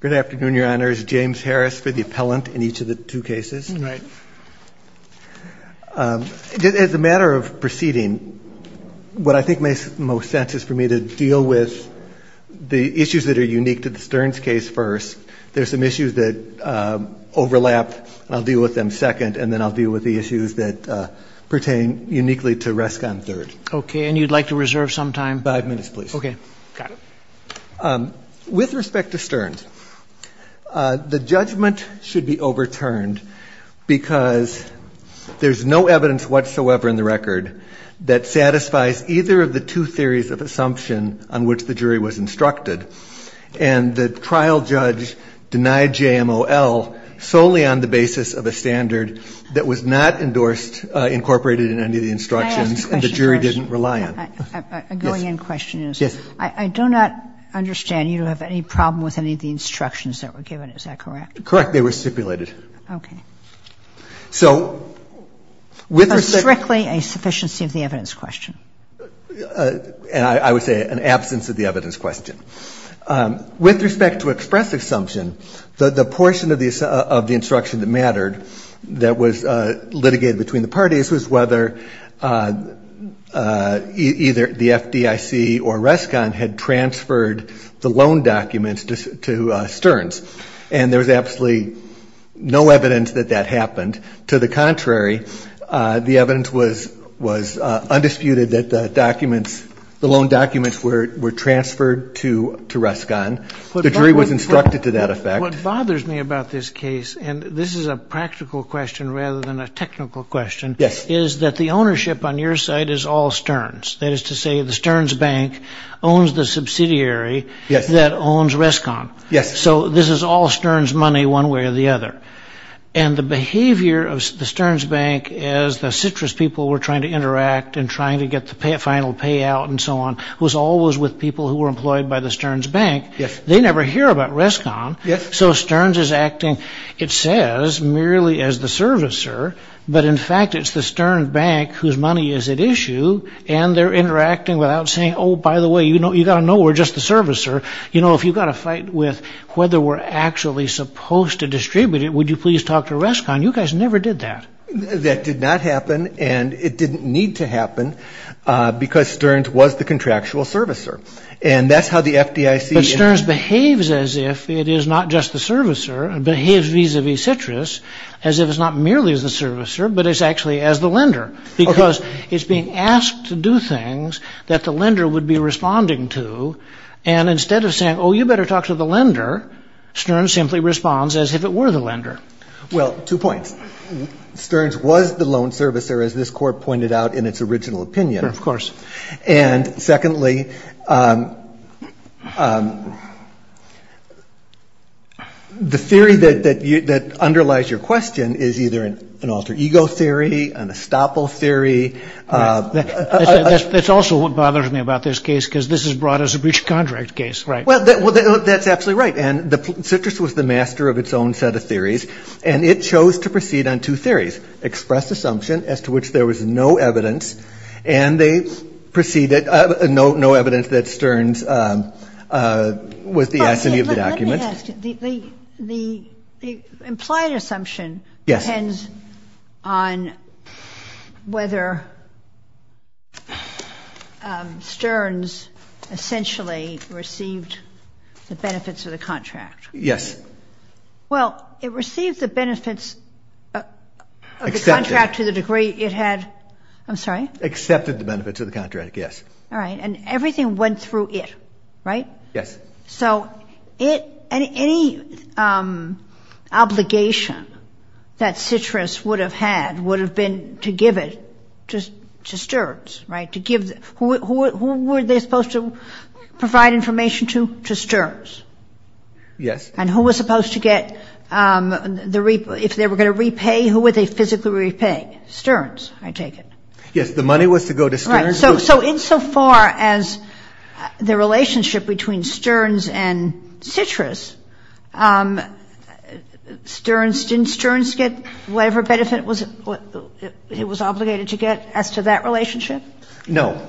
Good afternoon, Your Honor. It's James Harris for the appellant in each of the two cases. As a matter of proceeding, what I think makes the most sense is for me to deal with the issues that are unique to the Stearns case first. There's some issues that overlap. I'll deal with them second and then I'll deal with the issues that pertain uniquely to Rescon third. Okay. And you'd like to reserve some time? Five minutes, please. Okay. With respect to Stearns, the judgment should be overturned because there's no evidence whatsoever in the record that satisfies either of the two theories of assumption on which the jury was instructed. And the trial judge denied JMOL solely on the basis of a standard that was not endorsed, incorporated in any of the instructions and the jury didn't rely on. I'm going in question. I do not understand you to have any problem with any of the instructions that were given. Is that correct? Correct. They were stipulated. Okay. So with respect Strictly a sufficiency of the evidence question. I would say an absence of the evidence question. With respect to expressive assumption, the portion of the instruction that mattered that was litigated between the parties was whether either the FDIC or Rescon had transferred the loan documents to Stearns. And there was absolutely no evidence that that happened. To the contrary, the evidence was undisputed that the documents, the loan documents were transferred to Rescon. The jury was instructed to that effect. What bothers me about this case, and this is a practical question rather than a technical question, is that the ownership on your side is all Stearns. That is to say the Stearns Bank owns the subsidiary that owns Rescon. So this is all Stearns money one way or the other. And the behavior of the Stearns Bank as the Citrus people were trying to interact and trying to get the final payout and so on was always with people who were employed by the Stearns Bank. They never hear about Rescon. So Stearns is acting, it says, merely as the servicer. But in fact, it's the Stearns Bank whose money is at issue. And they're interacting without saying, oh, by the way, you know, you got to know we're just the servicer. You know, if you've got a fight with whether we're actually supposed to distribute it, would you please talk to Rescon? You guys never did that. That did not happen, and it didn't need to happen because Stearns was the contractual servicer. And that's how the FDIC... But Stearns behaves as if it is not just the servicer. It behaves vis-a-vis Citrus as if it's not merely the servicer, but it's actually as the lender because it's being asked to do things that the lender would be responding to. And instead of saying, oh, you better talk to the lender, Well, two points. Stearns was the loan servicer, as this court pointed out in its original opinion. Of course. And secondly, the theory that underlies your question is either an alter ego theory, an estoppel theory. That's also what bothers me about this case, because this is brought as a breach of contract case. Well, that's absolutely right. And Citrus was the master of its own set of theories, and it chose to proceed on two theories, expressed assumption as to which there was no evidence, and they proceeded, no evidence that Stearns was the entity of the document. The implied assumption depends on whether Stearns essentially received the benefits of the contract. Yes. Well, it received the benefits of the contract to the degree it had... I'm sorry? Accepted the benefits of the contract, yes. All right. And everything went through it, right? Yes. So any obligation that Citrus would have had would have been to give it to Stearns, right? To give... Who were they supposed to provide information to? To Stearns. Yes. And who was supposed to get the... If they were going to repay, who would they physically repay? Stearns, I take it. Yes. The money was to go to Stearns. So insofar as the relationship between Stearns and Citrus, Stearns... Didn't Stearns get whatever benefit it was obligated to get as to that relationship? No.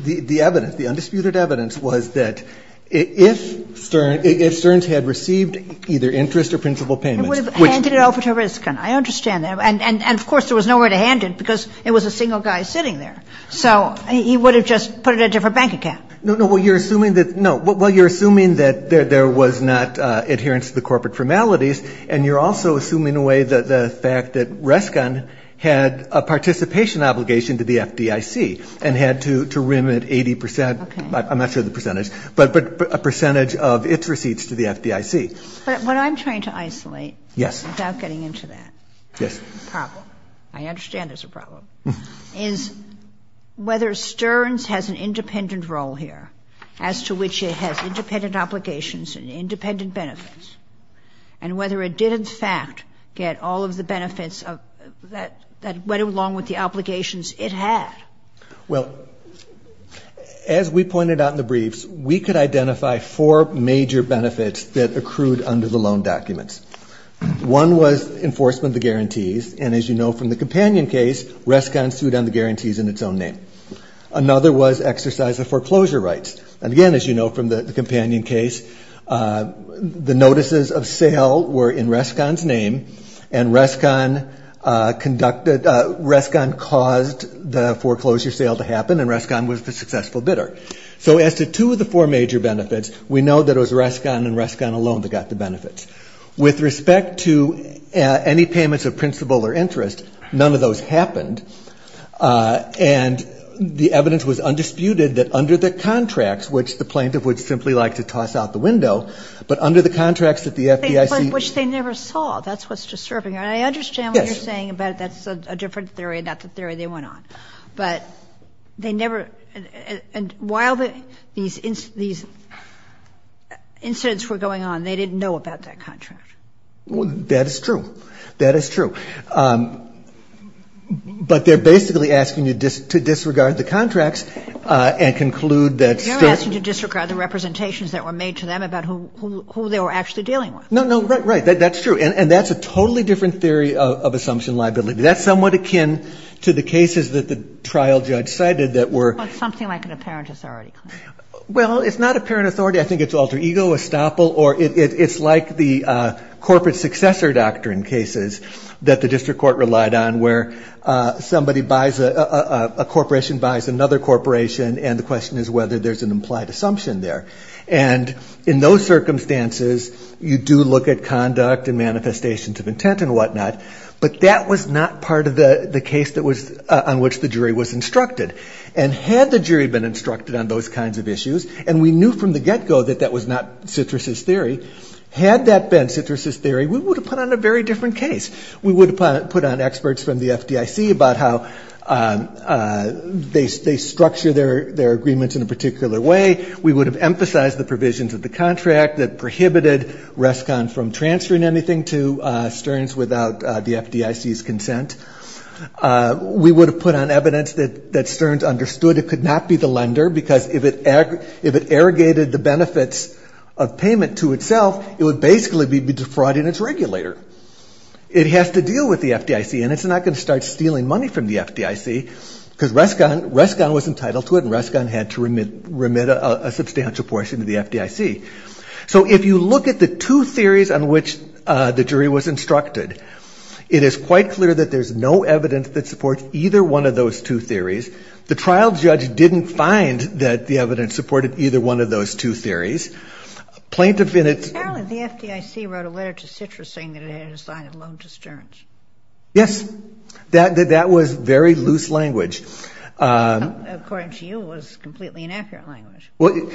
The evidence, the undisputed evidence was that if Stearns had received either interest or principal payments... It would have handed it over to Riskin. I understand that. And of course, there was nowhere to hand it because it was a single guy sitting there. So he would have just put it in a different bank account. No, no. Well, you're assuming that... No. Well, you're assuming that there was not adherence to the corporate formalities and you're also assuming in a way that the fact that Riskin had a participation obligation to the FDIC and had to remit 80%... I'm not sure of the percentage, but a percentage of its receipts to the FDIC. But what I'm trying to isolate... Yes. Without getting into that. Yes. The problem, I understand there's a problem, is whether Stearns has an independent role here as to which it has independent obligations and independent benefits and whether it did in fact get all of the benefits that went along with the obligations it had. Well, as we pointed out in the briefs, we could identify four major benefits that accrued under the loan documents. One was enforcement of the guarantees. And as you know from the companion case, Riskin sued on the guarantees in its own name. Another was exercise of foreclosure rights. And again, as you know from the companion case, the notices of sale were in Riskin's name and Riskin caused the foreclosure sale to happen and Riskin was the successful bidder. So as to two of the four major benefits, we know that it was Riskin and Riskin alone that got the benefits. With respect to any payments of principal or interest, none of those happened. And the evidence was undisputed that under the contracts, which the plaintiff would simply like to toss out the window, but under the contracts that the FDIC... Which they never saw. That's what's disturbing. And I understand what you're saying about that's a different theory, not the theory they went on. But they never... And while these incidents were going on, they didn't know about that contract. That is true. That is true. But they're basically asking you to disregard the contracts and conclude that... They're asking you to disregard the representations that were made to them about who they were actually dealing with. No, no. Right, right. That's true. And that's a totally different theory of assumption liability. That's somewhat akin to the cases that the trial judge cited that were... Something like an apparent authority claim. Well, it's not apparent authority. I think it's alter ego, estoppel, or it's like the corporate successor doctrine cases that the district court relied on, where somebody buys... A corporation buys another corporation, and the question is whether there's an implied assumption there. And in those circumstances, you do look at conduct and manifestations of intent and whatnot. But that was not part of the case on which the jury was instructed. And had the jury been instructed on those kinds of issues, and we knew from the get-go that that was not Citrus's theory, had that been Citrus's theory, we would have put on a very different case. We would have put on experts from the FDIC about how they structure their agreements in a particular way. We would have emphasized the provisions of the contract that prohibited Rescon from transferring anything to Stearns without the FDIC's consent. We would have put on evidence that Stearns understood it could not be the lender, because if it arrogated the benefits of payment to itself, it would basically be defrauding its regulator. It has to deal with the FDIC, and it's not going to start stealing money from the FDIC, because Rescon was entitled to it, and Rescon had to remit a substantial portion to the FDIC. So if you look at the two theories on which the jury was instructed, it is quite clear that there's no evidence that supports either one of those two theories. The trial judge didn't find that the evidence supported either one of those two theories. Plaintiff in its... Apparently the FDIC wrote a letter to Citrus saying that it had assigned a loan to Stearns. Yes, that was very loose language. According to you, it was completely inaccurate language. Well,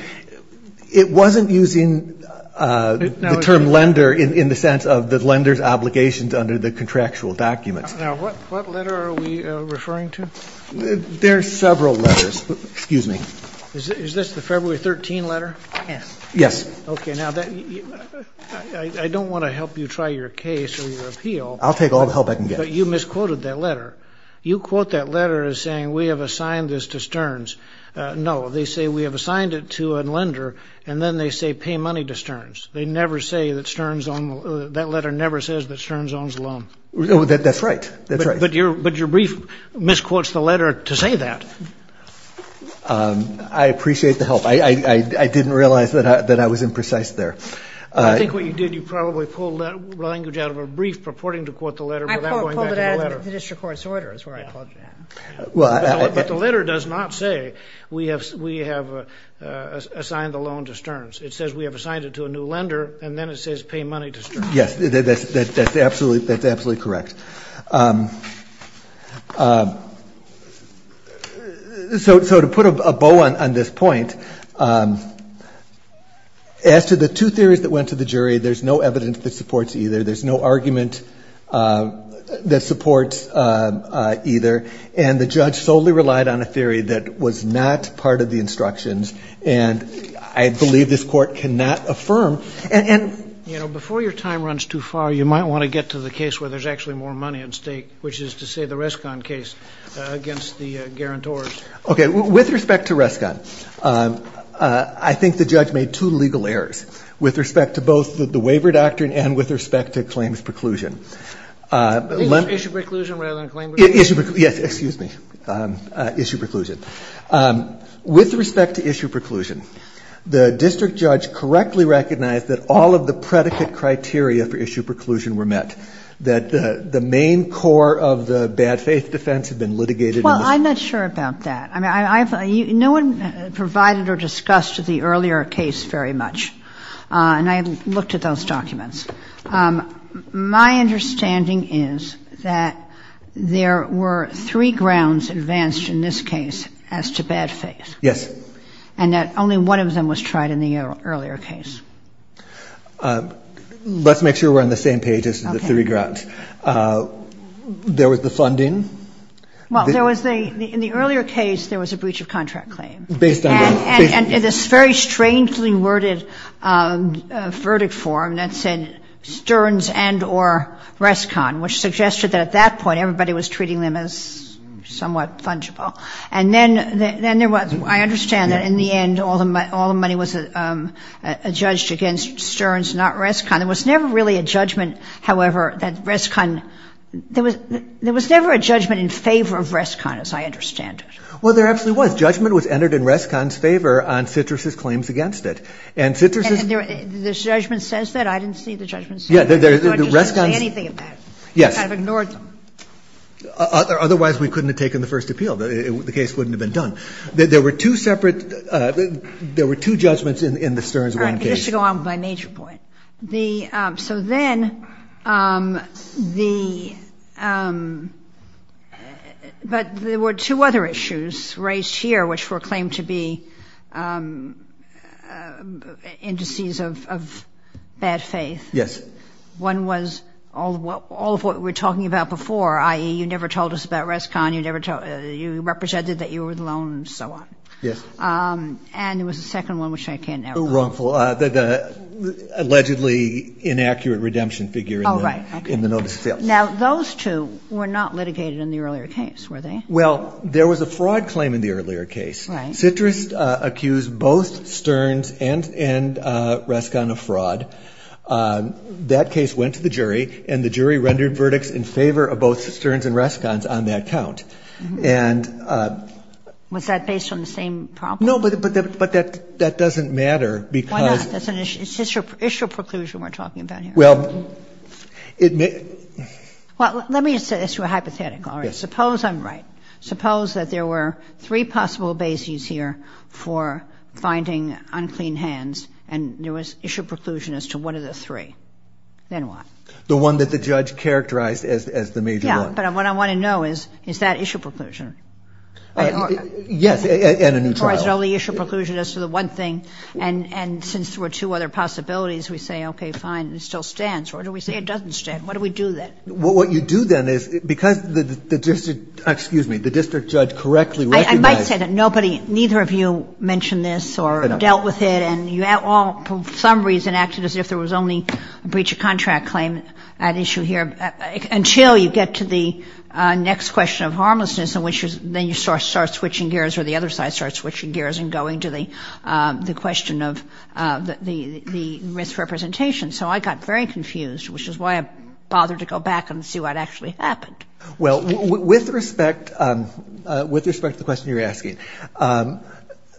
it wasn't using the term lender in the sense of the lender's obligations under the contractual documents. Now, what letter are we referring to? There are several letters. Excuse me. Is this the February 13 letter? Yes. Yes. Okay. Now, I don't want to help you try your case or your appeal. I'll take all the help I can get. But you misquoted that letter. You quote that letter as saying we have assigned this to Stearns. No, they say we have assigned it to a lender, and then they say pay money to Stearns. They never say that Stearns owns... That letter never says that Stearns owns a loan. That's right. But your brief misquotes the letter to say that. I appreciate the help. I didn't realize that I was imprecise there. I think what you did, you probably pulled that language out of a brief purporting to quote the letter without going back to the letter. I pulled it out of the district court's order. That's where I caught that. But the letter does not say we have assigned the loan to Stearns. It says we have assigned it to a new lender, and then it says pay money to Stearns. Yes, that's absolutely correct. So to put a bow on this point, as to the two theories that went to the jury, there's no evidence that supports either. There's no argument that supports either. And the judge solely relied on a theory that was not part of the instructions, and I believe this court cannot affirm. You know, before your time runs too far, you might want to get to the case where there's actually more money at stake, which is to say the Rescon case against the guarantors. Okay, with respect to Rescon, I think the judge made two legal errors with respect to both the waiver doctrine and with respect to claims preclusion. Issue preclusion rather than claim preclusion? Yes, excuse me. Issue preclusion. With respect to issue preclusion, the district judge correctly recognized that all of the predicate criteria for issue preclusion were met, that the main core of the bad faith defense had been litigated. Well, I'm not sure about that. I mean, no one provided or discussed the earlier case very much, and I looked at those documents. My understanding is that there were three grounds advanced in this case as to bad faith. Yes. And that only one of them was tried in the earlier case. Let's make sure we're on the same page as the three grounds. There was the funding. Well, in the earlier case, there was a breach of contract claim. Based on that. And in this very strangely worded verdict form that said Stearns and or Rescon, which suggested that at that point everybody was treating them as somewhat fungible. And then there was, I understand that in the end all the money was judged against Stearns, not Rescon. There was never really a judgment, however, that Rescon, there was never a judgment in favor of Rescon as I understand it. Well, there absolutely was. Judgment was entered in Rescon's favor on Citrus's claims against it. And Citrus's. And the judgment says that? I didn't see the judgment say that. Yeah, the Rescon. I didn't see anything of that. Yes. It kind of ignored them. Otherwise, we couldn't have taken the first appeal. The case wouldn't have been done. There were two separate, there were two judgments in the Stearns case. All right. Just to go on with my major point. So then the, but there were two other issues raised here which were claimed to be indices of bad faith. Yes. One was all of what we were talking about before, i.e., you never told us about Rescon, you represented that you were alone and so on. Yes. And there was a second one which I can't now. Wrongful. The allegedly inaccurate redemption figure. Oh, right. In the notice of fail. Now, those two were not litigated in the earlier case, were they? Well, there was a fraud claim in the earlier case. Right. Citrus accused both Stearns and Rescon of fraud. That case went to the jury, and the jury rendered verdicts in favor of both Stearns and Rescon's on that count. And. Was that based on the same problem? Well, no, but that doesn't matter because. Why not? It's just an issue of preclusion we're talking about here. Well, it may. Well, let me say this to a hypothetical. All right. Suppose I'm right. Suppose that there were three possible bases here for finding unclean hands, and there was issue of preclusion as to one of the three. Then what? The one that the judge characterized as the major one. Yeah, but what I want to know is, is that issue of preclusion? Yes, and a new trial. Or is it only issue of preclusion as to the one thing? And since there were two other possibilities, we say, okay, fine, it still stands. Or do we say it doesn't stand? What do we do then? What you do then is, because the district, excuse me, the district judge correctly recognized. I might say that nobody, neither of you mentioned this or dealt with it. And you all, for some reason, acted as if there was only a breach of contract claim at issue here, until you get to the next question of harmlessness, in which then you start switching gears, or the other side starts switching gears and going to the question of the misrepresentation. So I got very confused, which is why I bothered to go back and see what actually happened. Well, with respect to the question you're asking,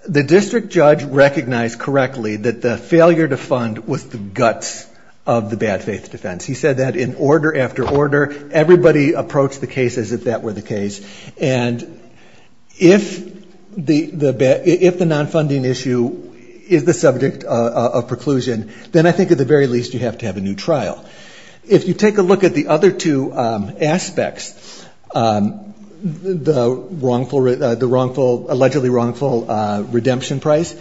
the district judge recognized correctly that the failure to fund was the guts of the bad faith defense. He said that in order after order. Everybody approached the case as if that were the case. And if the nonfunding issue is the subject of preclusion, then I think at the very least you have to have a new trial. If you take a look at the other two aspects, the wrongful, the wrongful, allegedly wrongful redemption price,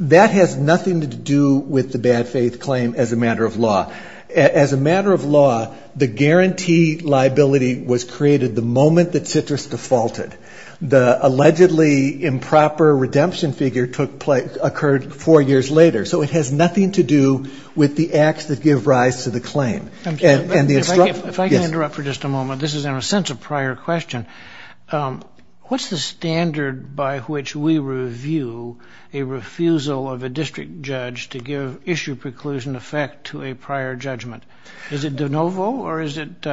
that has nothing to do with the bad faith claim as a matter of law. As a matter of law, the guarantee liability was created the moment that Citrus defaulted. The allegedly improper redemption figure occurred four years later. So it has nothing to do with the acts that give rise to the claim. If I can interrupt for just a moment, this is in a sense a prior question. What's the standard by which we review a refusal of a district judge to give issue preclusion effect to a prior judgment? Is it de novo or is it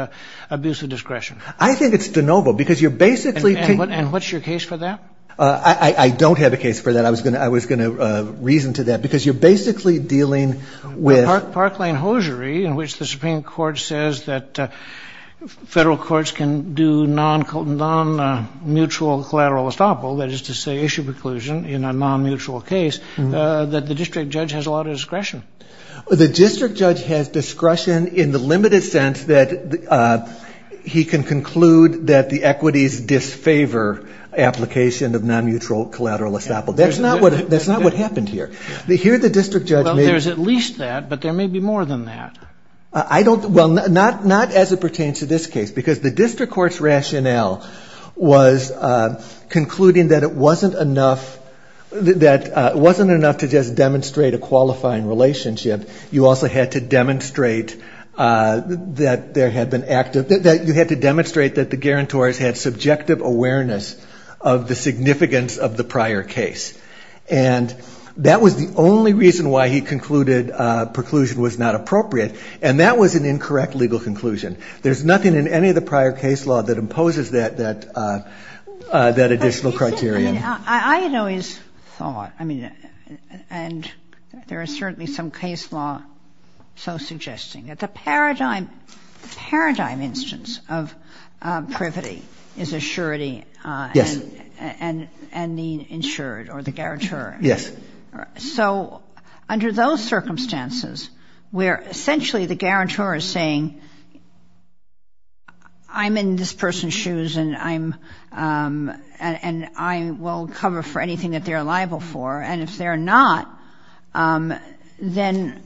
abuse of discretion? I think it's de novo because you're basically... And what's your case for that? I don't have a case for that. I was going to reason to that because you're basically dealing with... ...in which the Supreme Court says that federal courts can do non-mutual collateral estoppel, that is to say issue preclusion in a non-mutual case, that the district judge has a lot of discretion. The district judge has discretion in the limited sense that he can conclude that the equities disfavor application of non-mutual collateral estoppel. That's not what happened here. Here the district judge may... Well, not as it pertains to this case because the district court's rationale was concluding that it wasn't enough to just demonstrate a qualifying relationship. You also had to demonstrate that there had been active... You had to demonstrate that the guarantors had subjective awareness of the significance of the prior case. And that was the only reason why he concluded preclusion was not appropriate. And that was an incorrect legal conclusion. There's nothing in any of the prior case law that imposes that additional criterion. I had always thought, and there is certainly some case law so suggesting, that the paradigm instance of privity is assurity and being insured or the guarantor. Yes. So under those circumstances where essentially the guarantor is saying, I'm in this person's shoes and I will cover for anything that they're liable for. And if they're not, then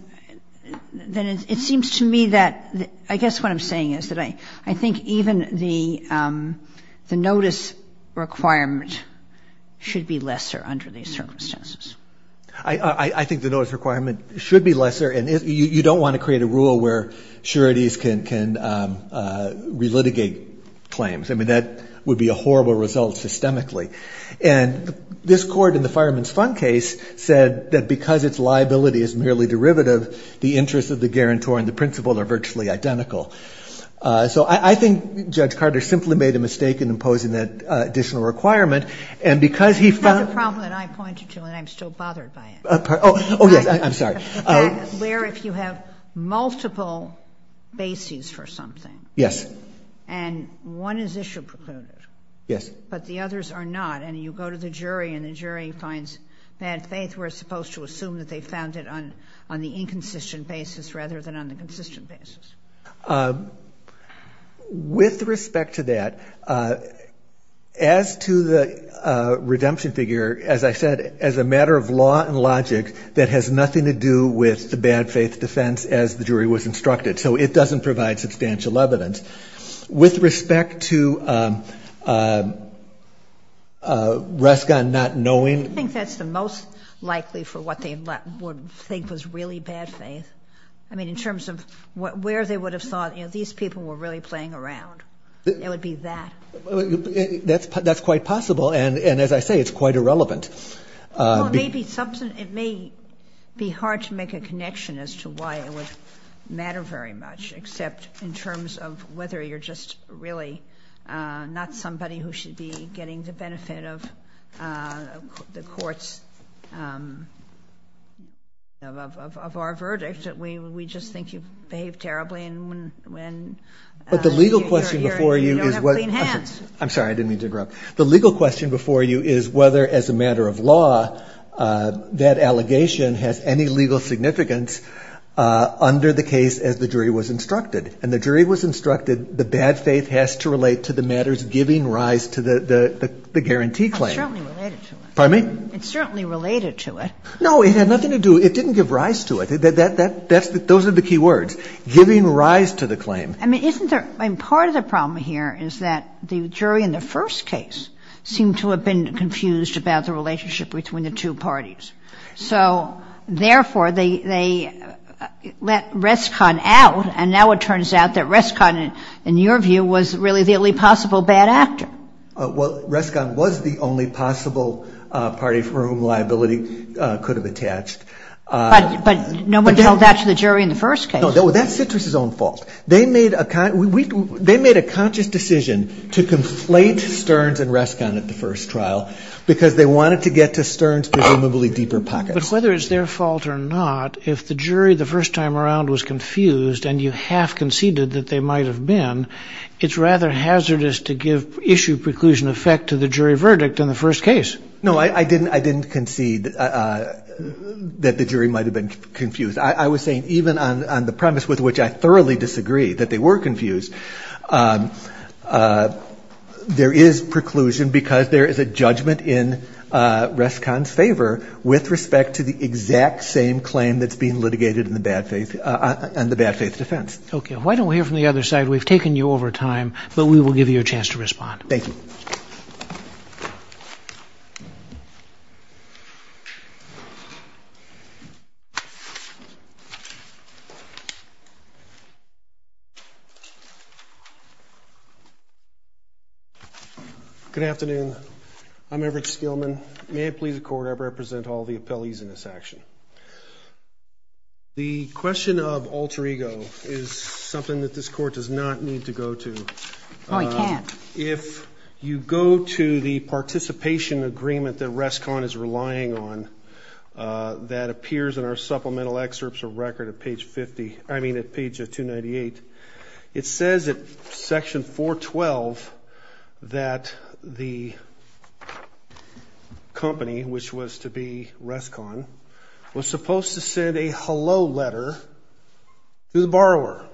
it seems to me that, I guess what I'm saying is that I think even the notice requirement should be lesser under these circumstances. I think the notice requirement should be lesser. And you don't want to create a rule where sureties can relitigate claims. I mean, that would be a horrible result systemically. And this Court in the Fireman's Fund case said that because its liability is merely derivative, the interests of the guarantor and the principal are virtually identical. So I think Judge Carter simply made a mistake in imposing that additional requirement. And because he found — That's a problem that I pointed to and I'm still bothered by it. Oh, yes. I'm sorry. Where if you have multiple bases for something. Yes. And one is issue precluded. Yes. But the others are not. And you go to the jury and the jury finds bad faith. We're supposed to assume that they found it on the inconsistent basis rather than on the consistent basis. With respect to that, as to the redemption figure, as I said, as a matter of law and logic, that has nothing to do with the bad faith defense as the jury was instructed. So it doesn't provide substantial evidence. With respect to Ruska not knowing. I think that's the most likely for what they would think was really bad faith. I mean, in terms of where they would have thought, you know, these people were really playing around. It would be that. That's quite possible. And as I say, it's quite irrelevant. Well, it may be something — it may be hard to make a connection as to why it would matter very much, except in terms of whether you're just really not somebody who should be getting the benefit of the court's — of our verdict. We just think you've behaved terribly and when — But the legal question before you is what — You don't have clean hands. I'm sorry. I didn't mean to interrupt. The legal question before you is whether, as a matter of law, that allegation has any legal significance under the case as the jury was instructed. And the jury was instructed the bad faith has to relate to the matters giving rise to the guarantee claim. It's certainly related to it. Pardon me? It's certainly related to it. No, it had nothing to do — it didn't give rise to it. Those are the key words, giving rise to the claim. I mean, isn't there — I mean, part of the problem here is that the jury in the first case seemed to have been confused about the relationship between the two parties. So, therefore, they let Rescon out, and now it turns out that Rescon, in your view, was really the only possible bad actor. Well, Rescon was the only possible party for whom liability could have attached. But no one told that to the jury in the first case. No, that's Citrus's own fault. They made a conscious decision to conflate Stearns and Rescon at the first trial because they wanted to get to Stearns' presumably deeper pockets. But whether it's their fault or not, if the jury the first time around was confused and you half conceded that they might have been, it's rather hazardous to give issue preclusion effect to the jury verdict in the first case. No, I didn't concede that the jury might have been confused. I was saying even on the premise with which I thoroughly disagree that they were confused, there is preclusion because there is a judgment in Rescon's favor with respect to the exact same claim that's being litigated on the bad faith defense. Okay. Why don't we hear from the other side? We've taken you over time, but we will give you a chance to respond. Thank you. Good afternoon. I'm Everett Skillman. May it please the Court, I represent all the appellees in this action. The question of alter ego is something that this Court does not need to go to. Oh, I can't. If you go to the participation agreement that Rescon is relying on that appears in our supplemental excerpts or record at page 50, I mean at page 298, it says at section 412 that the company, which was to be Rescon, was supposed to send a hello letter to the borrower.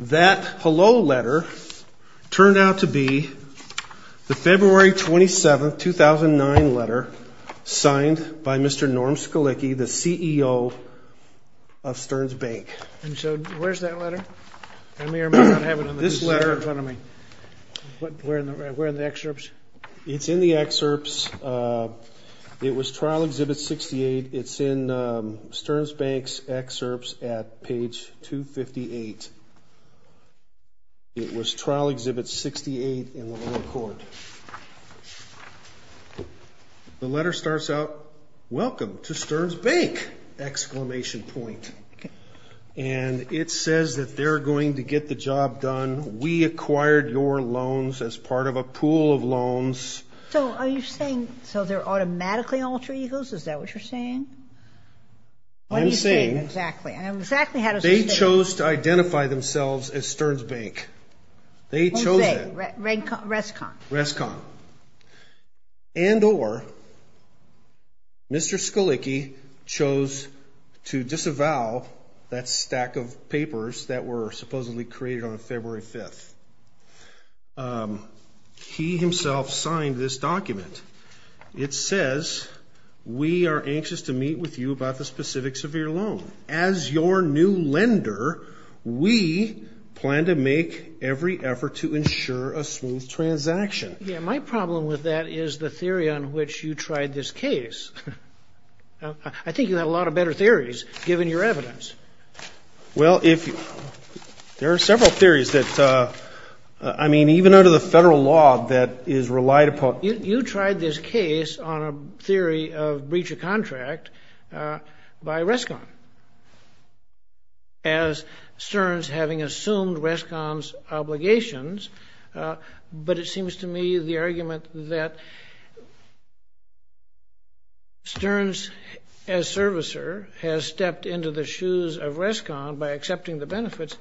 That hello letter turned out to be the February 27, 2009 letter signed by Mr. Norm Scalicchi, the CEO of Stearns Bank. And so where's that letter? I may or may not have it in this letter in front of me. Where in the excerpts? It's in the excerpts. It was trial exhibit 68. It's in Stearns Bank's excerpts at page 258. It was trial exhibit 68 in the lower court. The letter starts out, welcome to Stearns Bank! Exclamation point. And it says that they're going to get the job done. So are you saying so they're automatically alter egos? Is that what you're saying? I'm saying they chose to identify themselves as Stearns Bank. They chose it. Rescon. Rescon. And or Mr. Scalicchi chose to disavow that stack of papers that were supposedly created on February 5th. He himself signed this document. It says, we are anxious to meet with you about the specifics of your loan. As your new lender, we plan to make every effort to ensure a smooth transaction. Yeah, my problem with that is the theory on which you tried this case. I think you had a lot of better theories, given your evidence. Well, there are several theories. I mean, even under the federal law that is relied upon. You tried this case on a theory of breach of contract by Rescon. As Stearns having assumed Rescon's obligations. But it seems to me the argument that Stearns, as servicer, has stepped into the shoes of Rescon by accepting the benefits.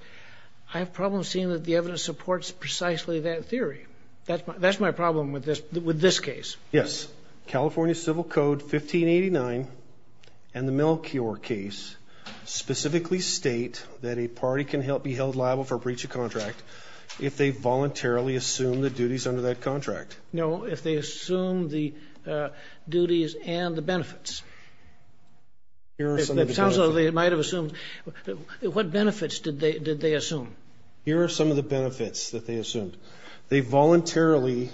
I have problems seeing that the evidence supports precisely that theory. That's my problem with this case. Yes. California Civil Code 1589 and the Melchior case specifically state that a party can be held liable for breach of contract if they voluntarily assume the duties under that contract. No, if they assume the duties and the benefits. It sounds like they might have assumed. What benefits did they assume? Here are some of the benefits that they assumed. They voluntarily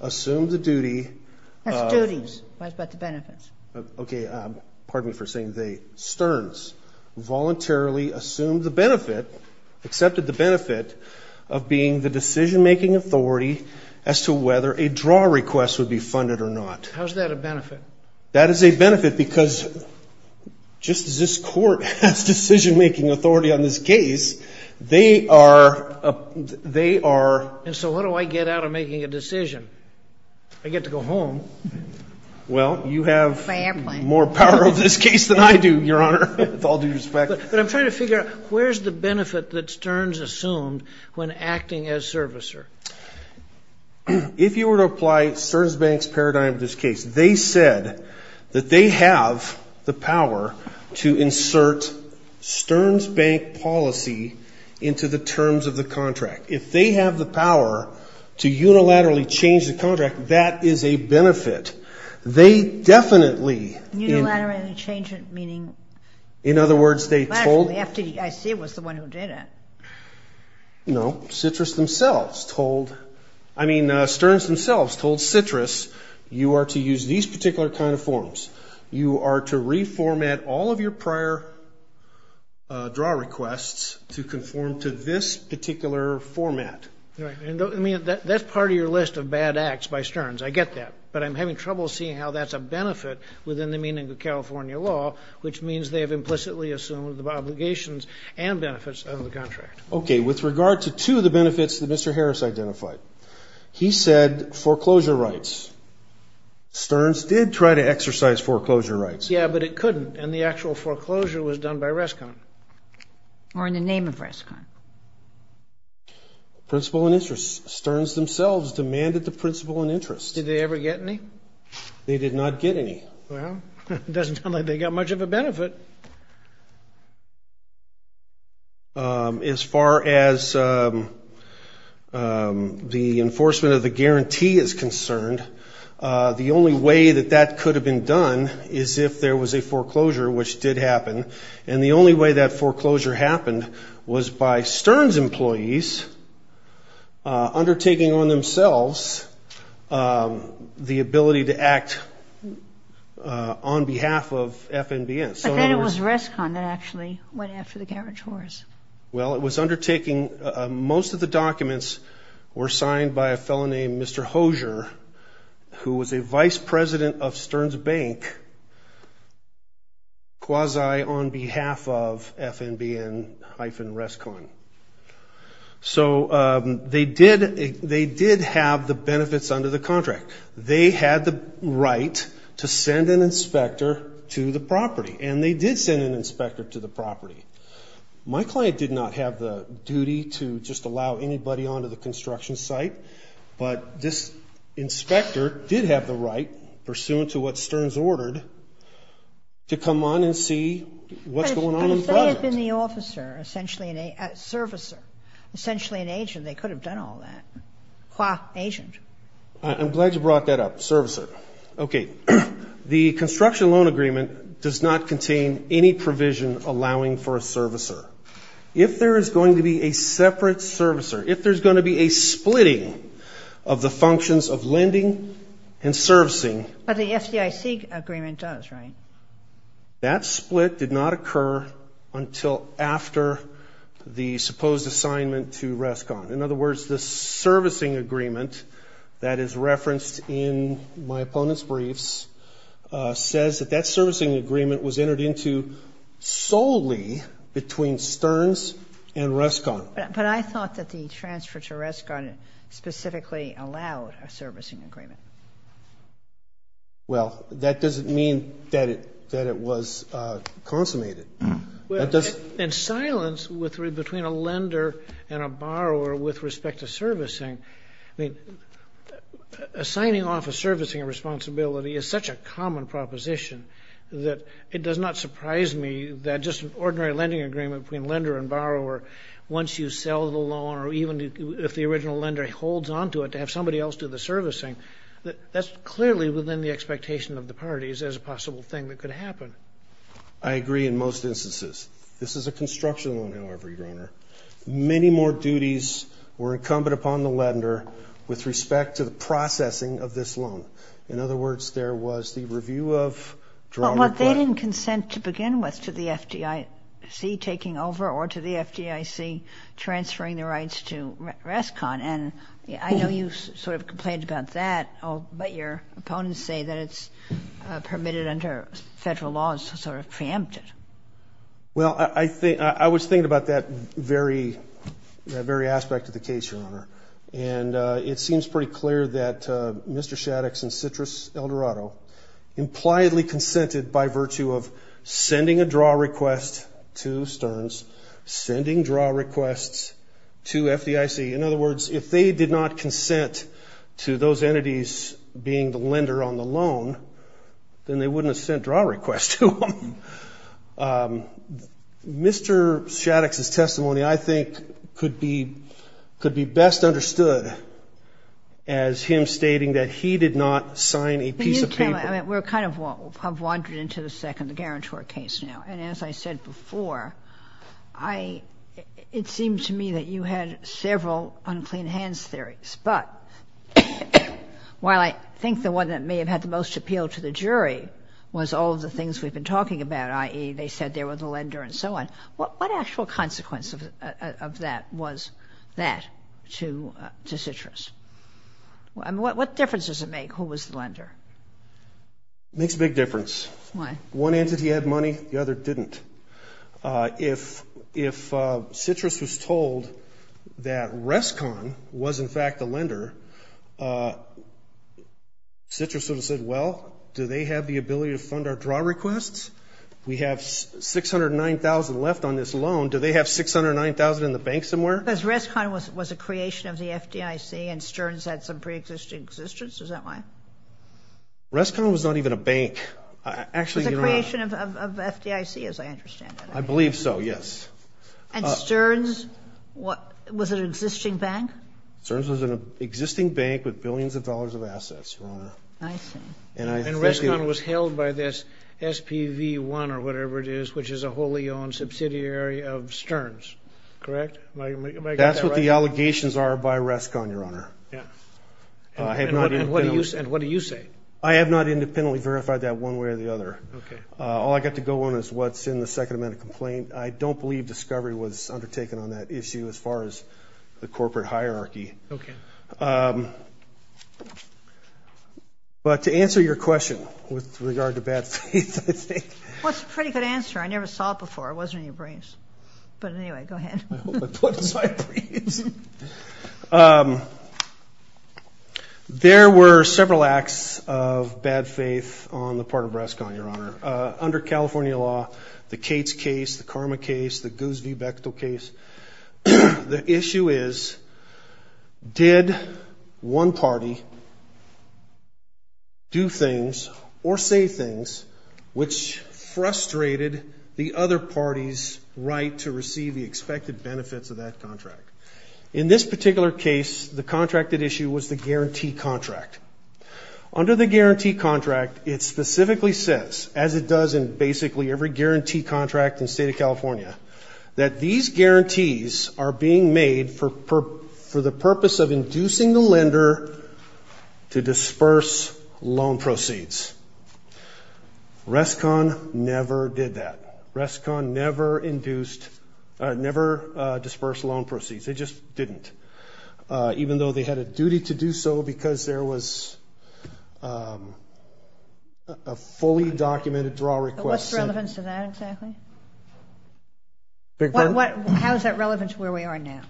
assumed the duty. That's duties. What about the benefits? Okay. Pardon me for saying they. Stearns voluntarily assumed the benefit, accepted the benefit, of being the decision-making authority as to whether a draw request would be funded or not. How is that a benefit? That is a benefit because just as this Court has decision-making authority on this case, they are. And so what do I get out of making a decision? I get to go home. Well, you have more power of this case than I do, Your Honor, with all due respect. But I'm trying to figure out where's the benefit that Stearns assumed when acting as servicer? If you were to apply Stearns Bank's paradigm to this case, they said that they have the power to insert Stearns Bank policy into the terms of the contract. If they have the power to unilaterally change the contract, that is a benefit. They definitely. Unilaterally change it, meaning? In other words, they told. I see it was the one who did it. No, Stearns themselves told Citrus, you are to use these particular kind of forms. You are to reformat all of your prior draw requests to conform to this particular format. That's part of your list of bad acts by Stearns. I get that. But I'm having trouble seeing how that's a benefit within the meaning of California law, which means they have implicitly assumed the obligations and benefits of the contract. Okay. With regard to two of the benefits that Mr. Harris identified, he said foreclosure rights. Stearns did try to exercise foreclosure rights. Yeah, but it couldn't. And the actual foreclosure was done by Rescon. Or in the name of Rescon. Principal and interest. Stearns themselves demanded the principal and interest. Did they ever get any? They did not get any. Well, it doesn't sound like they got much of a benefit. As far as the enforcement of the guarantee is concerned, the only way that that could have been done is if there was a foreclosure, which did happen. And the only way that foreclosure happened was by Stearns employees undertaking on themselves the ability to act on behalf of FNBN. But then it was Rescon that actually went after the garage whores. Well, it was undertaking most of the documents were signed by a fellow named Mr. Hosier, who was a vice president of Stearns Bank, quasi on behalf of FNBN-Rescon. So they did have the benefits under the contract. They had the right to send an inspector to the property. And they did send an inspector to the property. My client did not have the duty to just allow anybody onto the construction site. But this inspector did have the right, pursuant to what Stearns ordered, to come on and see what's going on in the project. But if they had been the officer, essentially a servicer, essentially an agent, they could have done all that. Qua agent. I'm glad you brought that up, servicer. Okay. The construction loan agreement does not contain any provision allowing for a servicer. If there is going to be a separate servicer, if there's going to be a splitting of the functions of lending and servicing. But the FDIC agreement does, right? That split did not occur until after the supposed assignment to Rescon. In other words, the servicing agreement that is referenced in my opponent's briefs says that that servicing agreement was entered into solely between Stearns and Rescon. But I thought that the transfer to Rescon specifically allowed a servicing agreement. Well, that doesn't mean that it was consummated. And silence between a lender and a borrower with respect to servicing. Assigning off a servicing responsibility is such a common proposition that it does not surprise me that just an ordinary lending agreement between lender and borrower, once you sell the loan or even if the original lender holds onto it to have somebody else do the servicing, that's clearly within the expectation of the parties as a possible thing that could happen. I agree in most instances. This is a construction loan, however, Your Honor. Many more duties were incumbent upon the lender with respect to the processing of this loan. In other words, there was the review of drawback. But they didn't consent to begin with to the FDIC taking over or to the FDIC transferring the rights to Rescon. And I know you sort of complained about that, but your opponents say that it's permitted under federal laws to sort of preempt it. Well, I was thinking about that very aspect of the case, Your Honor. And it seems pretty clear that Mr. Shaddix and Citrus Eldorado impliedly consented by virtue of sending a draw request to Stearns, sending draw requests to FDIC. In other words, if they did not consent to those entities being the lender on the loan, then they wouldn't have sent draw requests to them. Mr. Shaddix's testimony, I think, could be best understood as him stating that he did not sign a piece of paper. I mean, we're kind of wandered into the second guarantor case now. And as I said before, it seemed to me that you had several unclean hands theories. But while I think the one that may have had the most appeal to the jury was all of the things we've been talking about, i.e. they said they were the lender and so on, what actual consequence of that was that to Citrus? I mean, what difference does it make who was the lender? It makes a big difference. Why? One entity had money, the other didn't. If Citrus was told that Rescon was in fact the lender, Citrus would have said, well, do they have the ability to fund our draw requests? We have $609,000 left on this loan. Do they have $609,000 in the bank somewhere? Because Rescon was a creation of the FDIC and Stearns had some preexisting existence. Is that why? Rescon was not even a bank. It was a creation of FDIC, as I understand it. I believe so, yes. And Stearns was an existing bank? Stearns was an existing bank with billions of dollars of assets, Your Honor. I see. And Rescon was held by this SPV1 or whatever it is, which is a wholly owned subsidiary of Stearns, correct? That's what the allegations are by Rescon, Your Honor. And what do you say? I have not independently verified that one way or the other. All I got to go on is what's in the second amendment complaint. I don't believe discovery was undertaken on that issue as far as the corporate hierarchy. Okay. But to answer your question with regard to bad faith, I think. Well, it's a pretty good answer. I never saw it before. It wasn't in your briefs. But anyway, go ahead. I hope I put it in my briefs. There were several acts of bad faith on the part of Rescon, Your Honor. Under California law, the Cates case, the Karma case, the Goose v. Bechtel case, the issue is did one party do things or say things which frustrated the other party's right to receive the expected benefits of that contract? In this particular case, the contracted issue was the guarantee contract. Under the guarantee contract, it specifically says, as it does in basically every guarantee contract in the State of California, that these guarantees are being made for the purpose of inducing the lender to disperse loan proceeds. Rescon never did that. Rescon never dispersed loan proceeds. They just didn't. Even though they had a duty to do so because there was a fully documented draw request. What's the relevance to that exactly? How is that relevant to where we are now?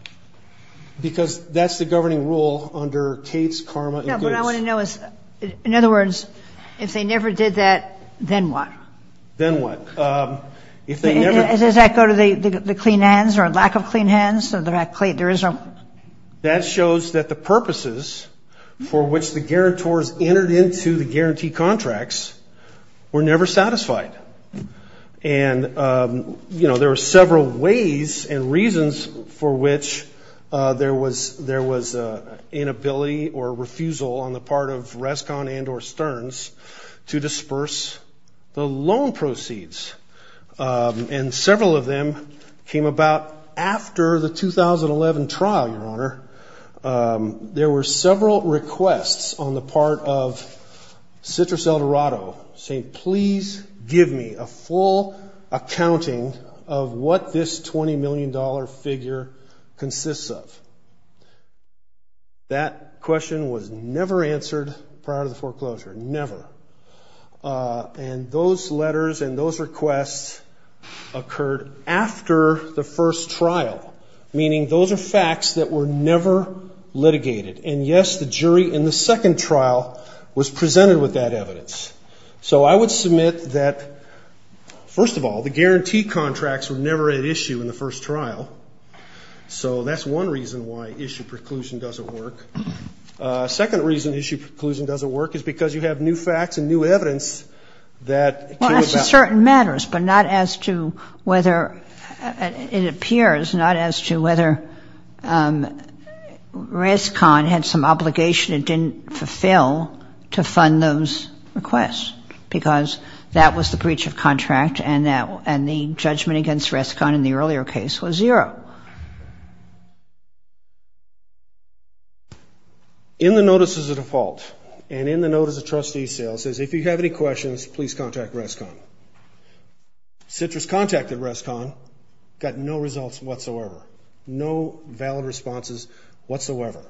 Because that's the governing rule under Cates, Karma, and Goose. No, what I want to know is, in other words, if they never did that, then what? Then what? Does that go to the clean hands or lack of clean hands? That shows that the purposes for which the guarantors entered into the guarantee contracts were never satisfied. And, you know, there were several ways and reasons for which there was inability or refusal on the part of Rescon and or Stearns to disperse the loan proceeds. And several of them came about after the 2011 trial, Your Honor. There were several requests on the part of Citrus Eldorado saying, please give me a full accounting of what this $20 million figure consists of. That question was never answered prior to the foreclosure, never. And those letters and those requests occurred after the first trial, meaning those are facts that were never litigated. And, yes, the jury in the second trial was presented with that evidence. So I would submit that, first of all, the guarantee contracts were never at issue in the first trial. So that's one reason why issue preclusion doesn't work. Second reason issue preclusion doesn't work is because you have new facts and new evidence that came about. In certain matters, but not as to whether it appears, not as to whether Rescon had some obligation it didn't fulfill to fund those requests, because that was the breach of contract and the judgment against Rescon in the earlier case was zero. In the notices of default and in the notice of trustee sale, it says, if you have any questions, please contact Rescon. Citrus contacted Rescon, got no results whatsoever, no valid responses whatsoever.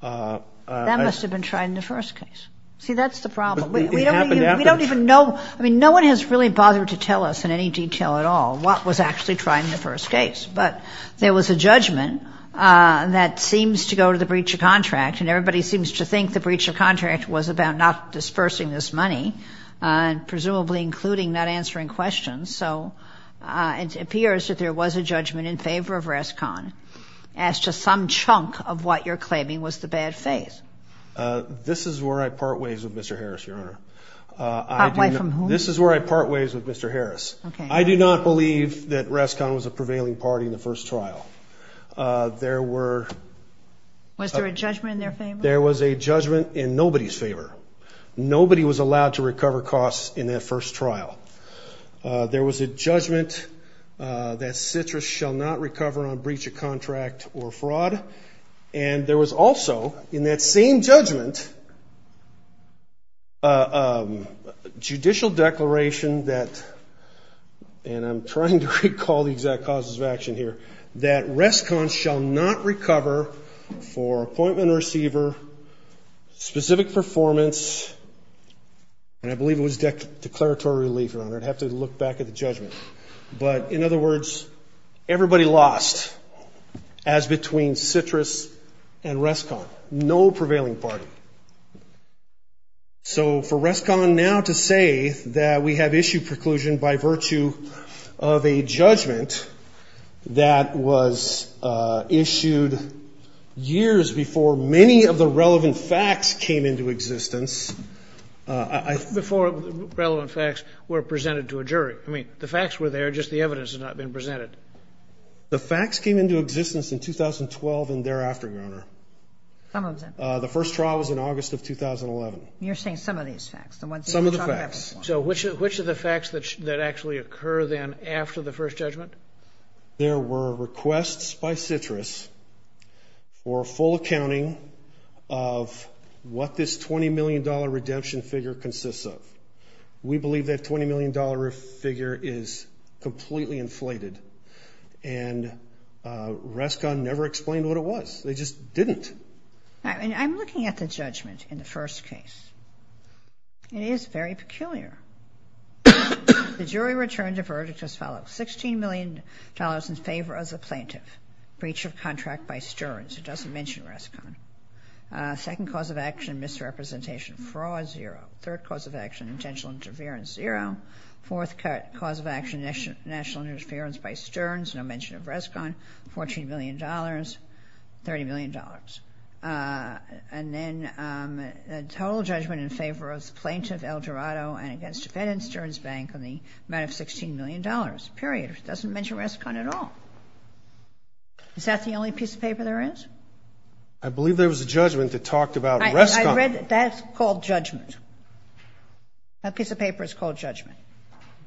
That must have been tried in the first case. See, that's the problem. We don't even know. I mean, no one has really bothered to tell us in any detail at all what was actually tried in the first case. But there was a judgment that seems to go to the breach of contract, and everybody seems to think the breach of contract was about not dispersing this money, presumably including not answering questions. So it appears that there was a judgment in favor of Rescon as to some chunk of what you're claiming was the bad faith. This is where I part ways with Mr. Harris, Your Honor. Part way from whom? This is where I part ways with Mr. Harris. Okay. I do not believe that Rescon was a prevailing party in the first trial. There were... Was there a judgment in their favor? There was a judgment in nobody's favor. Nobody was allowed to recover costs in that first trial. There was a judgment that Citrus shall not recover on breach of contract or fraud. And there was also, in that same judgment, a judicial declaration that, and I'm trying to recall the exact causes of action here, that Rescon shall not recover for appointment receiver, specific performance, and I believe it was declaratory relief, Your Honor. But in other words, everybody lost as between Citrus and Rescon. No prevailing party. So for Rescon now to say that we have issued preclusion by virtue of a judgment that was issued years before many of the relevant facts came into existence... Before relevant facts were presented to a jury. I mean, the facts were there, just the evidence had not been presented. The facts came into existence in 2012 and thereafter, Your Honor. Some of them. The first trial was in August of 2011. You're saying some of these facts. Some of the facts. So which of the facts that actually occur then after the first judgment? There were requests by Citrus for full accounting of what this $20 million redemption figure consists of. We believe that $20 million figure is completely inflated, and Rescon never explained what it was. They just didn't. I'm looking at the judgment in the first case. It is very peculiar. The jury returned a verdict as follows. $16 million in favor as a plaintiff. Breach of contract by Stearns. It doesn't mention Rescon. Second cause of action, misrepresentation. Fraud zero. Third cause of action, intentional interference zero. Fourth cause of action, national interference by Stearns. No mention of Rescon. $14 million. $30 million. And then a total judgment in favor of the plaintiff, El Dorado, and against the Fed and Stearns Bank on the amount of $16 million. Period. It doesn't mention Rescon at all. Is that the only piece of paper there is? I believe there was a judgment that talked about Rescon. That's called judgment. That piece of paper is called judgment.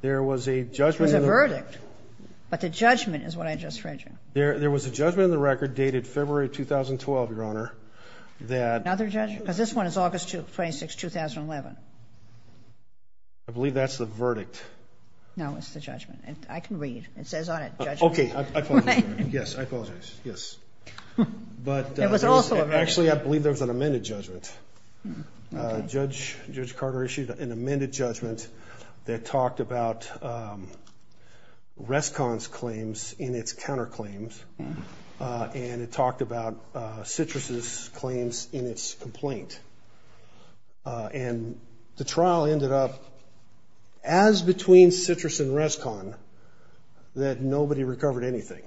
There was a judgment. It was a verdict. But the judgment is what I just read you. There was a judgment in the record dated February 2012, Your Honor. Another judgment? Because this one is August 26, 2011. I believe that's the verdict. No, it's the judgment. I can read. Okay. I apologize. Yes, I apologize. Yes. It was also a verdict. Actually, I believe there was an amended judgment. Okay. Judge Carter issued an amended judgment that talked about Rescon's claims in its counterclaims, and it talked about Citrus's claims in its complaint. And the trial ended up as between Citrus and Rescon that nobody recovered anything.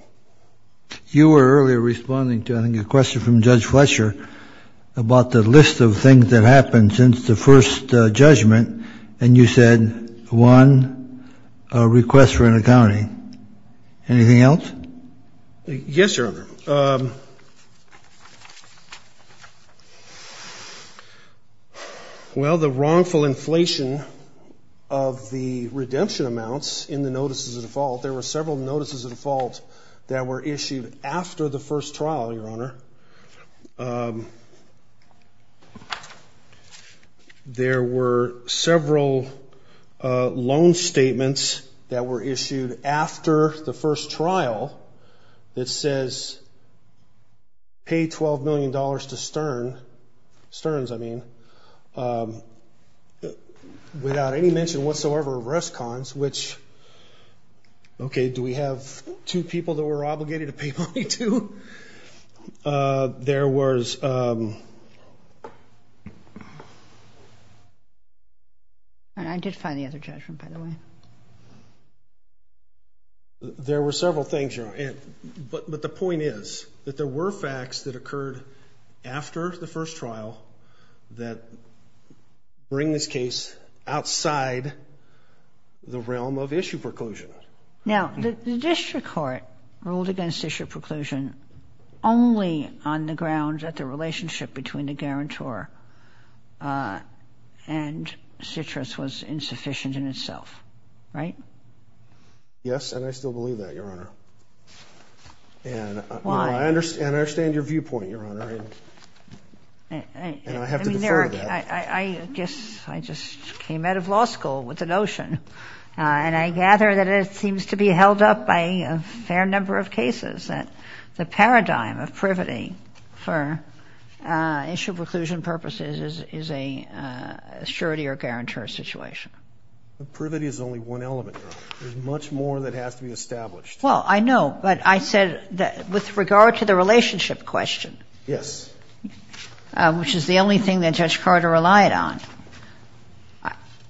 You were earlier responding to, I think, a question from Judge Fletcher about the list of things that happened since the first judgment, and you said, one, a request for an accounting. Anything else? Yes, Your Honor. Well, the wrongful inflation of the redemption amounts in the notices of default there were several notices of default that were issued after the first trial, Your Honor. There were several loan statements that were issued after the first trial that says, pay $12 million to Sterns, I mean, without any mention whatsoever of Rescon's, which, okay, do we have two people that we're obligated to pay money to? There was... I did find the other judgment, by the way. There were several things, Your Honor, but the point is that there were facts that Now, the district court ruled against issue preclusion only on the ground that the relationship between the guarantor and Citrus was insufficient in itself, right? Yes, and I still believe that, Your Honor. Why? And I understand your viewpoint, Your Honor, and I have to defer to that. I guess I just came out of law school with the notion, and I gather that it seems to be held up by a fair number of cases, that the paradigm of privity for issue preclusion purposes is a surety or guarantor situation. But privity is only one element, Your Honor. There's much more that has to be established. Well, I know, but I said that with regard to the relationship question... Yes. ...which is the only thing that Judge Carter relied on.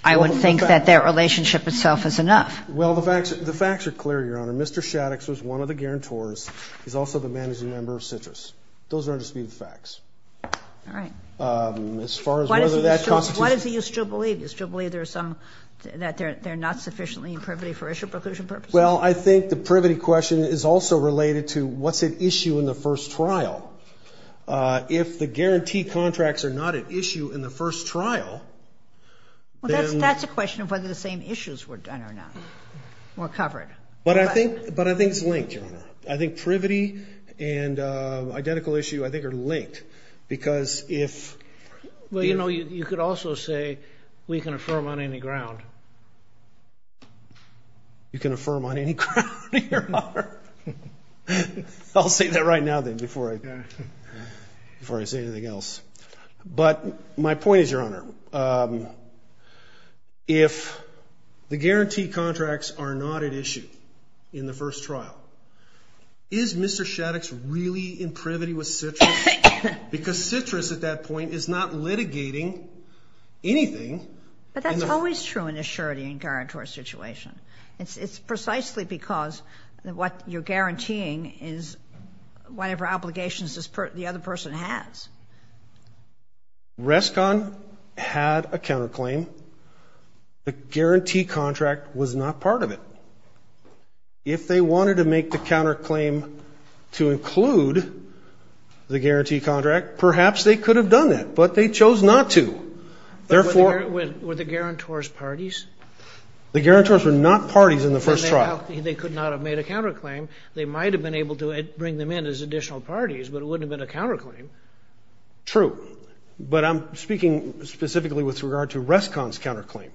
I would think that that relationship itself is enough. Well, the facts are clear, Your Honor. Mr. Shaddix was one of the guarantors. He's also the managing member of Citrus. Those are just the facts. All right. As far as whether that constitutes... What is it you still believe? You still believe there are some, that they're not sufficiently in privity for issue preclusion purposes? Well, I think the privity question is also related to what's at issue in the first trial. If the guarantee contracts are not at issue in the first trial, then... Well, that's a question of whether the same issues were done or not or covered. But I think it's linked, Your Honor. I think privity and identical issue, I think, are linked because if... Well, you know, you could also say we can affirm on any ground. You can affirm on any ground, Your Honor? I'll say that right now, then, before I say anything else. But my point is, Your Honor, if the guarantee contracts are not at issue in the first trial, is Mr. Shaddix really in privity with Citrus? Because Citrus, at that point, is not litigating anything. But that's always true in a surety and guarantor situation. It's precisely because what you're guaranteeing is whatever obligations the other person has. Rescon had a counterclaim. The guarantee contract was not part of it. If they wanted to make the counterclaim to include the guarantee contract, perhaps they could have done that. But they chose not to. Were the guarantors parties? The guarantors were not parties in the first trial. They could not have made a counterclaim. They might have been able to bring them in as additional parties, but it wouldn't have been a counterclaim. True. But I'm speaking specifically with regard to Rescon's counterclaim.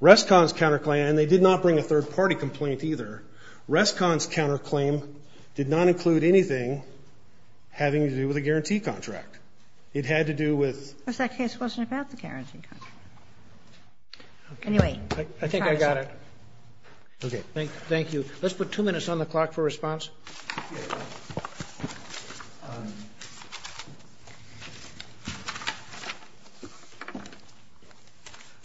Rescon's counterclaim, and they did not bring a third-party complaint either, Rescon's counterclaim did not include anything having to do with a guarantee contract. It had to do with... Because that case wasn't about the guarantee contract. Anyway. I think I got it. Okay. Thank you. Let's put two minutes on the clock for response.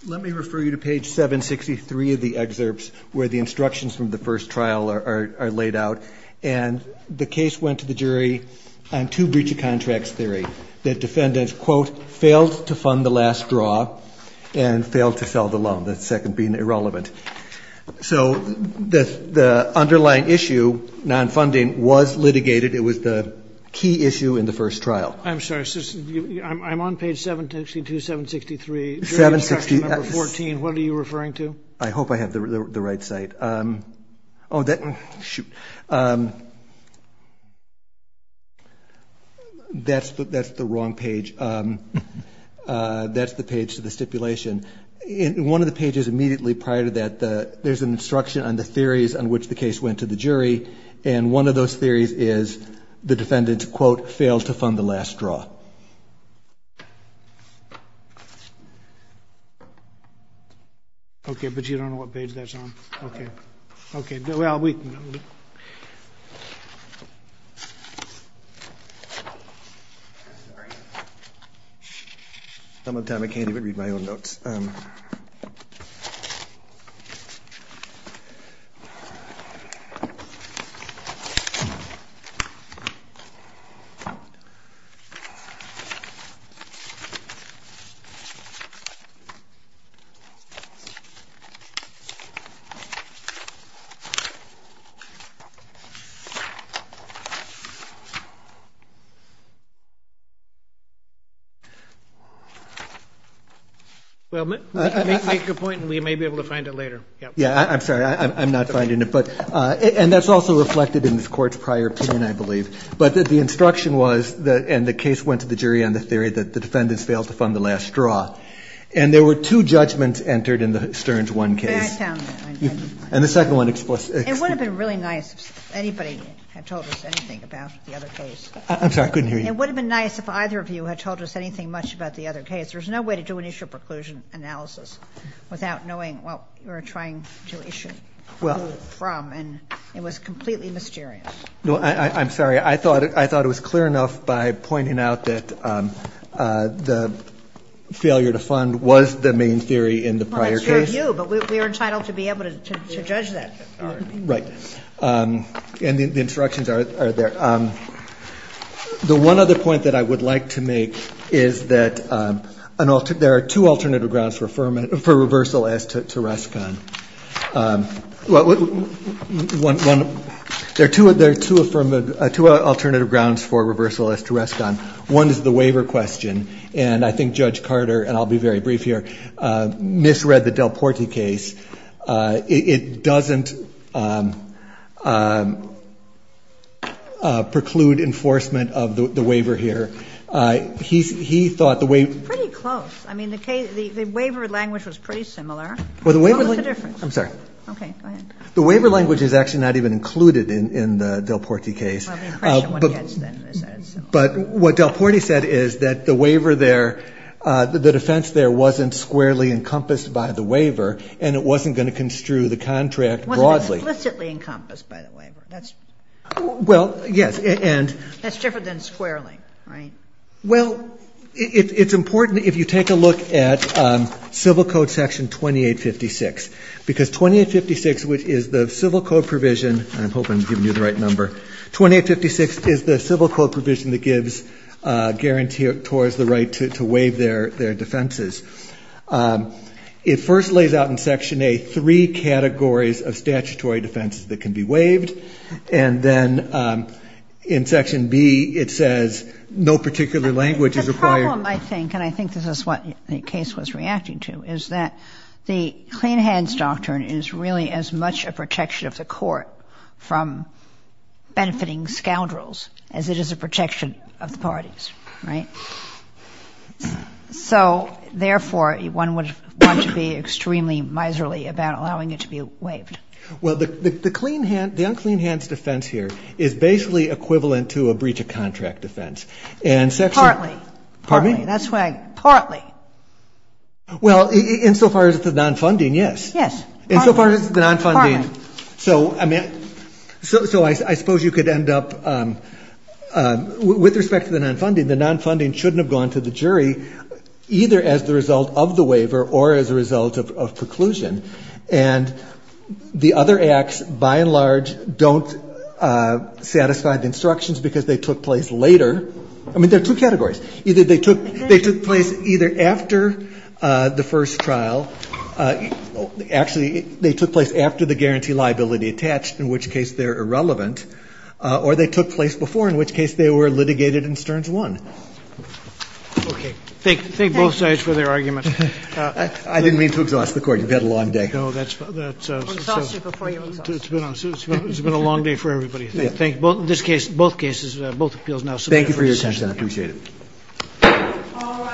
Let me refer you to page 763 of the excerpts where the instructions from the first trial are laid out. And the case went to the jury on two breach of contracts theory. The defendants, quote, failed to fund the last draw and failed to sell the loan, the second being irrelevant. So the underlying issue, non-funding, was litigated. It was the key issue in the first trial. I'm sorry. I'm on page 762, 763. 760. Number 14. What are you referring to? I hope I have the right site. Oh, shoot. That's the wrong page. That's the page to the stipulation. One of the pages immediately prior to that, there's an instruction on the theories on which the case went to the jury, and one of those theories is the defendants, quote, failed to fund the last draw. Okay. But you don't know what page that's on. Okay. Okay. Well, we can go. I'm sorry. Some of the time I can't even read my own notes. Well, make your point, and we may be able to find it later. Yeah. Yeah, I'm sorry. I'm not finding it. And that's also reflected in this court's prior opinion, I believe. But the instruction was, and the case went to the jury on the theory that the defendants failed to fund the last draw. And there were two judgments entered in the Stearns 1 case. Back down there. And the second one explicitly. It would have been really nice if anybody had told us anything. I'm sorry, I couldn't hear you. It would have been nice if either of you had told us anything much about the other case. There's no way to do an issue of preclusion analysis without knowing what you were trying to issue from. And it was completely mysterious. No, I'm sorry. I thought it was clear enough by pointing out that the failure to fund was the main theory in the prior case. Well, that's your view, but we are entitled to be able to judge that. Right. And the instructions are there. The one other point that I would like to make is that there are two alternative grounds for reversal as to Rescon. There are two alternative grounds for reversal as to Rescon. One is the waiver question. And I think Judge Carter, and I'll be very brief here, misread the Del Porti case. It doesn't preclude enforcement of the waiver here. He thought the waiver. Pretty close. I mean, the waiver language was pretty similar. Well, the waiver. What was the difference? I'm sorry. Okay, go ahead. The waiver language is actually not even included in the Del Porti case. Well, the impression one gets then is that it's similar. But what Del Porti said is that the waiver there, the defense there, wasn't squarely encompassed by the waiver, and it wasn't going to construe the contract broadly. It wasn't explicitly encompassed by the waiver. Well, yes. That's different than squarely, right? Well, it's important if you take a look at Civil Code Section 2856, because 2856, which is the civil code provision, and I'm hoping I'm giving you the right number, 2856 is the civil code provision that gives guarantors the right to waive their defenses. It first lays out in Section A three categories of statutory defenses that can be waived, and then in Section B it says no particular language is required. The problem, I think, and I think this is what the case was reacting to, is that the clean hands doctrine is really as much a protection of the court from benefiting scoundrels as it is a protection of the parties, right? So, therefore, one would want to be extremely miserly about allowing it to be waived. Well, the clean hand, the unclean hands defense here is basically equivalent to a breach of contract defense. Partly. Pardon me? Partly. Well, in so far as the non-funding, yes. Yes. In so far as the non-funding. Partly. So, I mean, so I suppose you could end up, with respect to the non-funding, the non-funding shouldn't have gone to the jury either as the result of the waiver or as a result of preclusion. And the other acts, by and large, don't satisfy the instructions because they took place later. I mean, there are two categories. Either they took place either after the first trial. Actually, they took place after the guarantee liability attached, in which case they're irrelevant, or they took place before, in which case they were litigated in Stearns 1. Okay. Thank both sides for their arguments. I didn't mean to exhaust the court. You've had a long day. No, that's. Exhaust it before you exhaust it. It's been a long day for everybody. Thank you. In this case, both cases, both appeals now submitted for discussion. Thank you very much. I appreciate it. All right.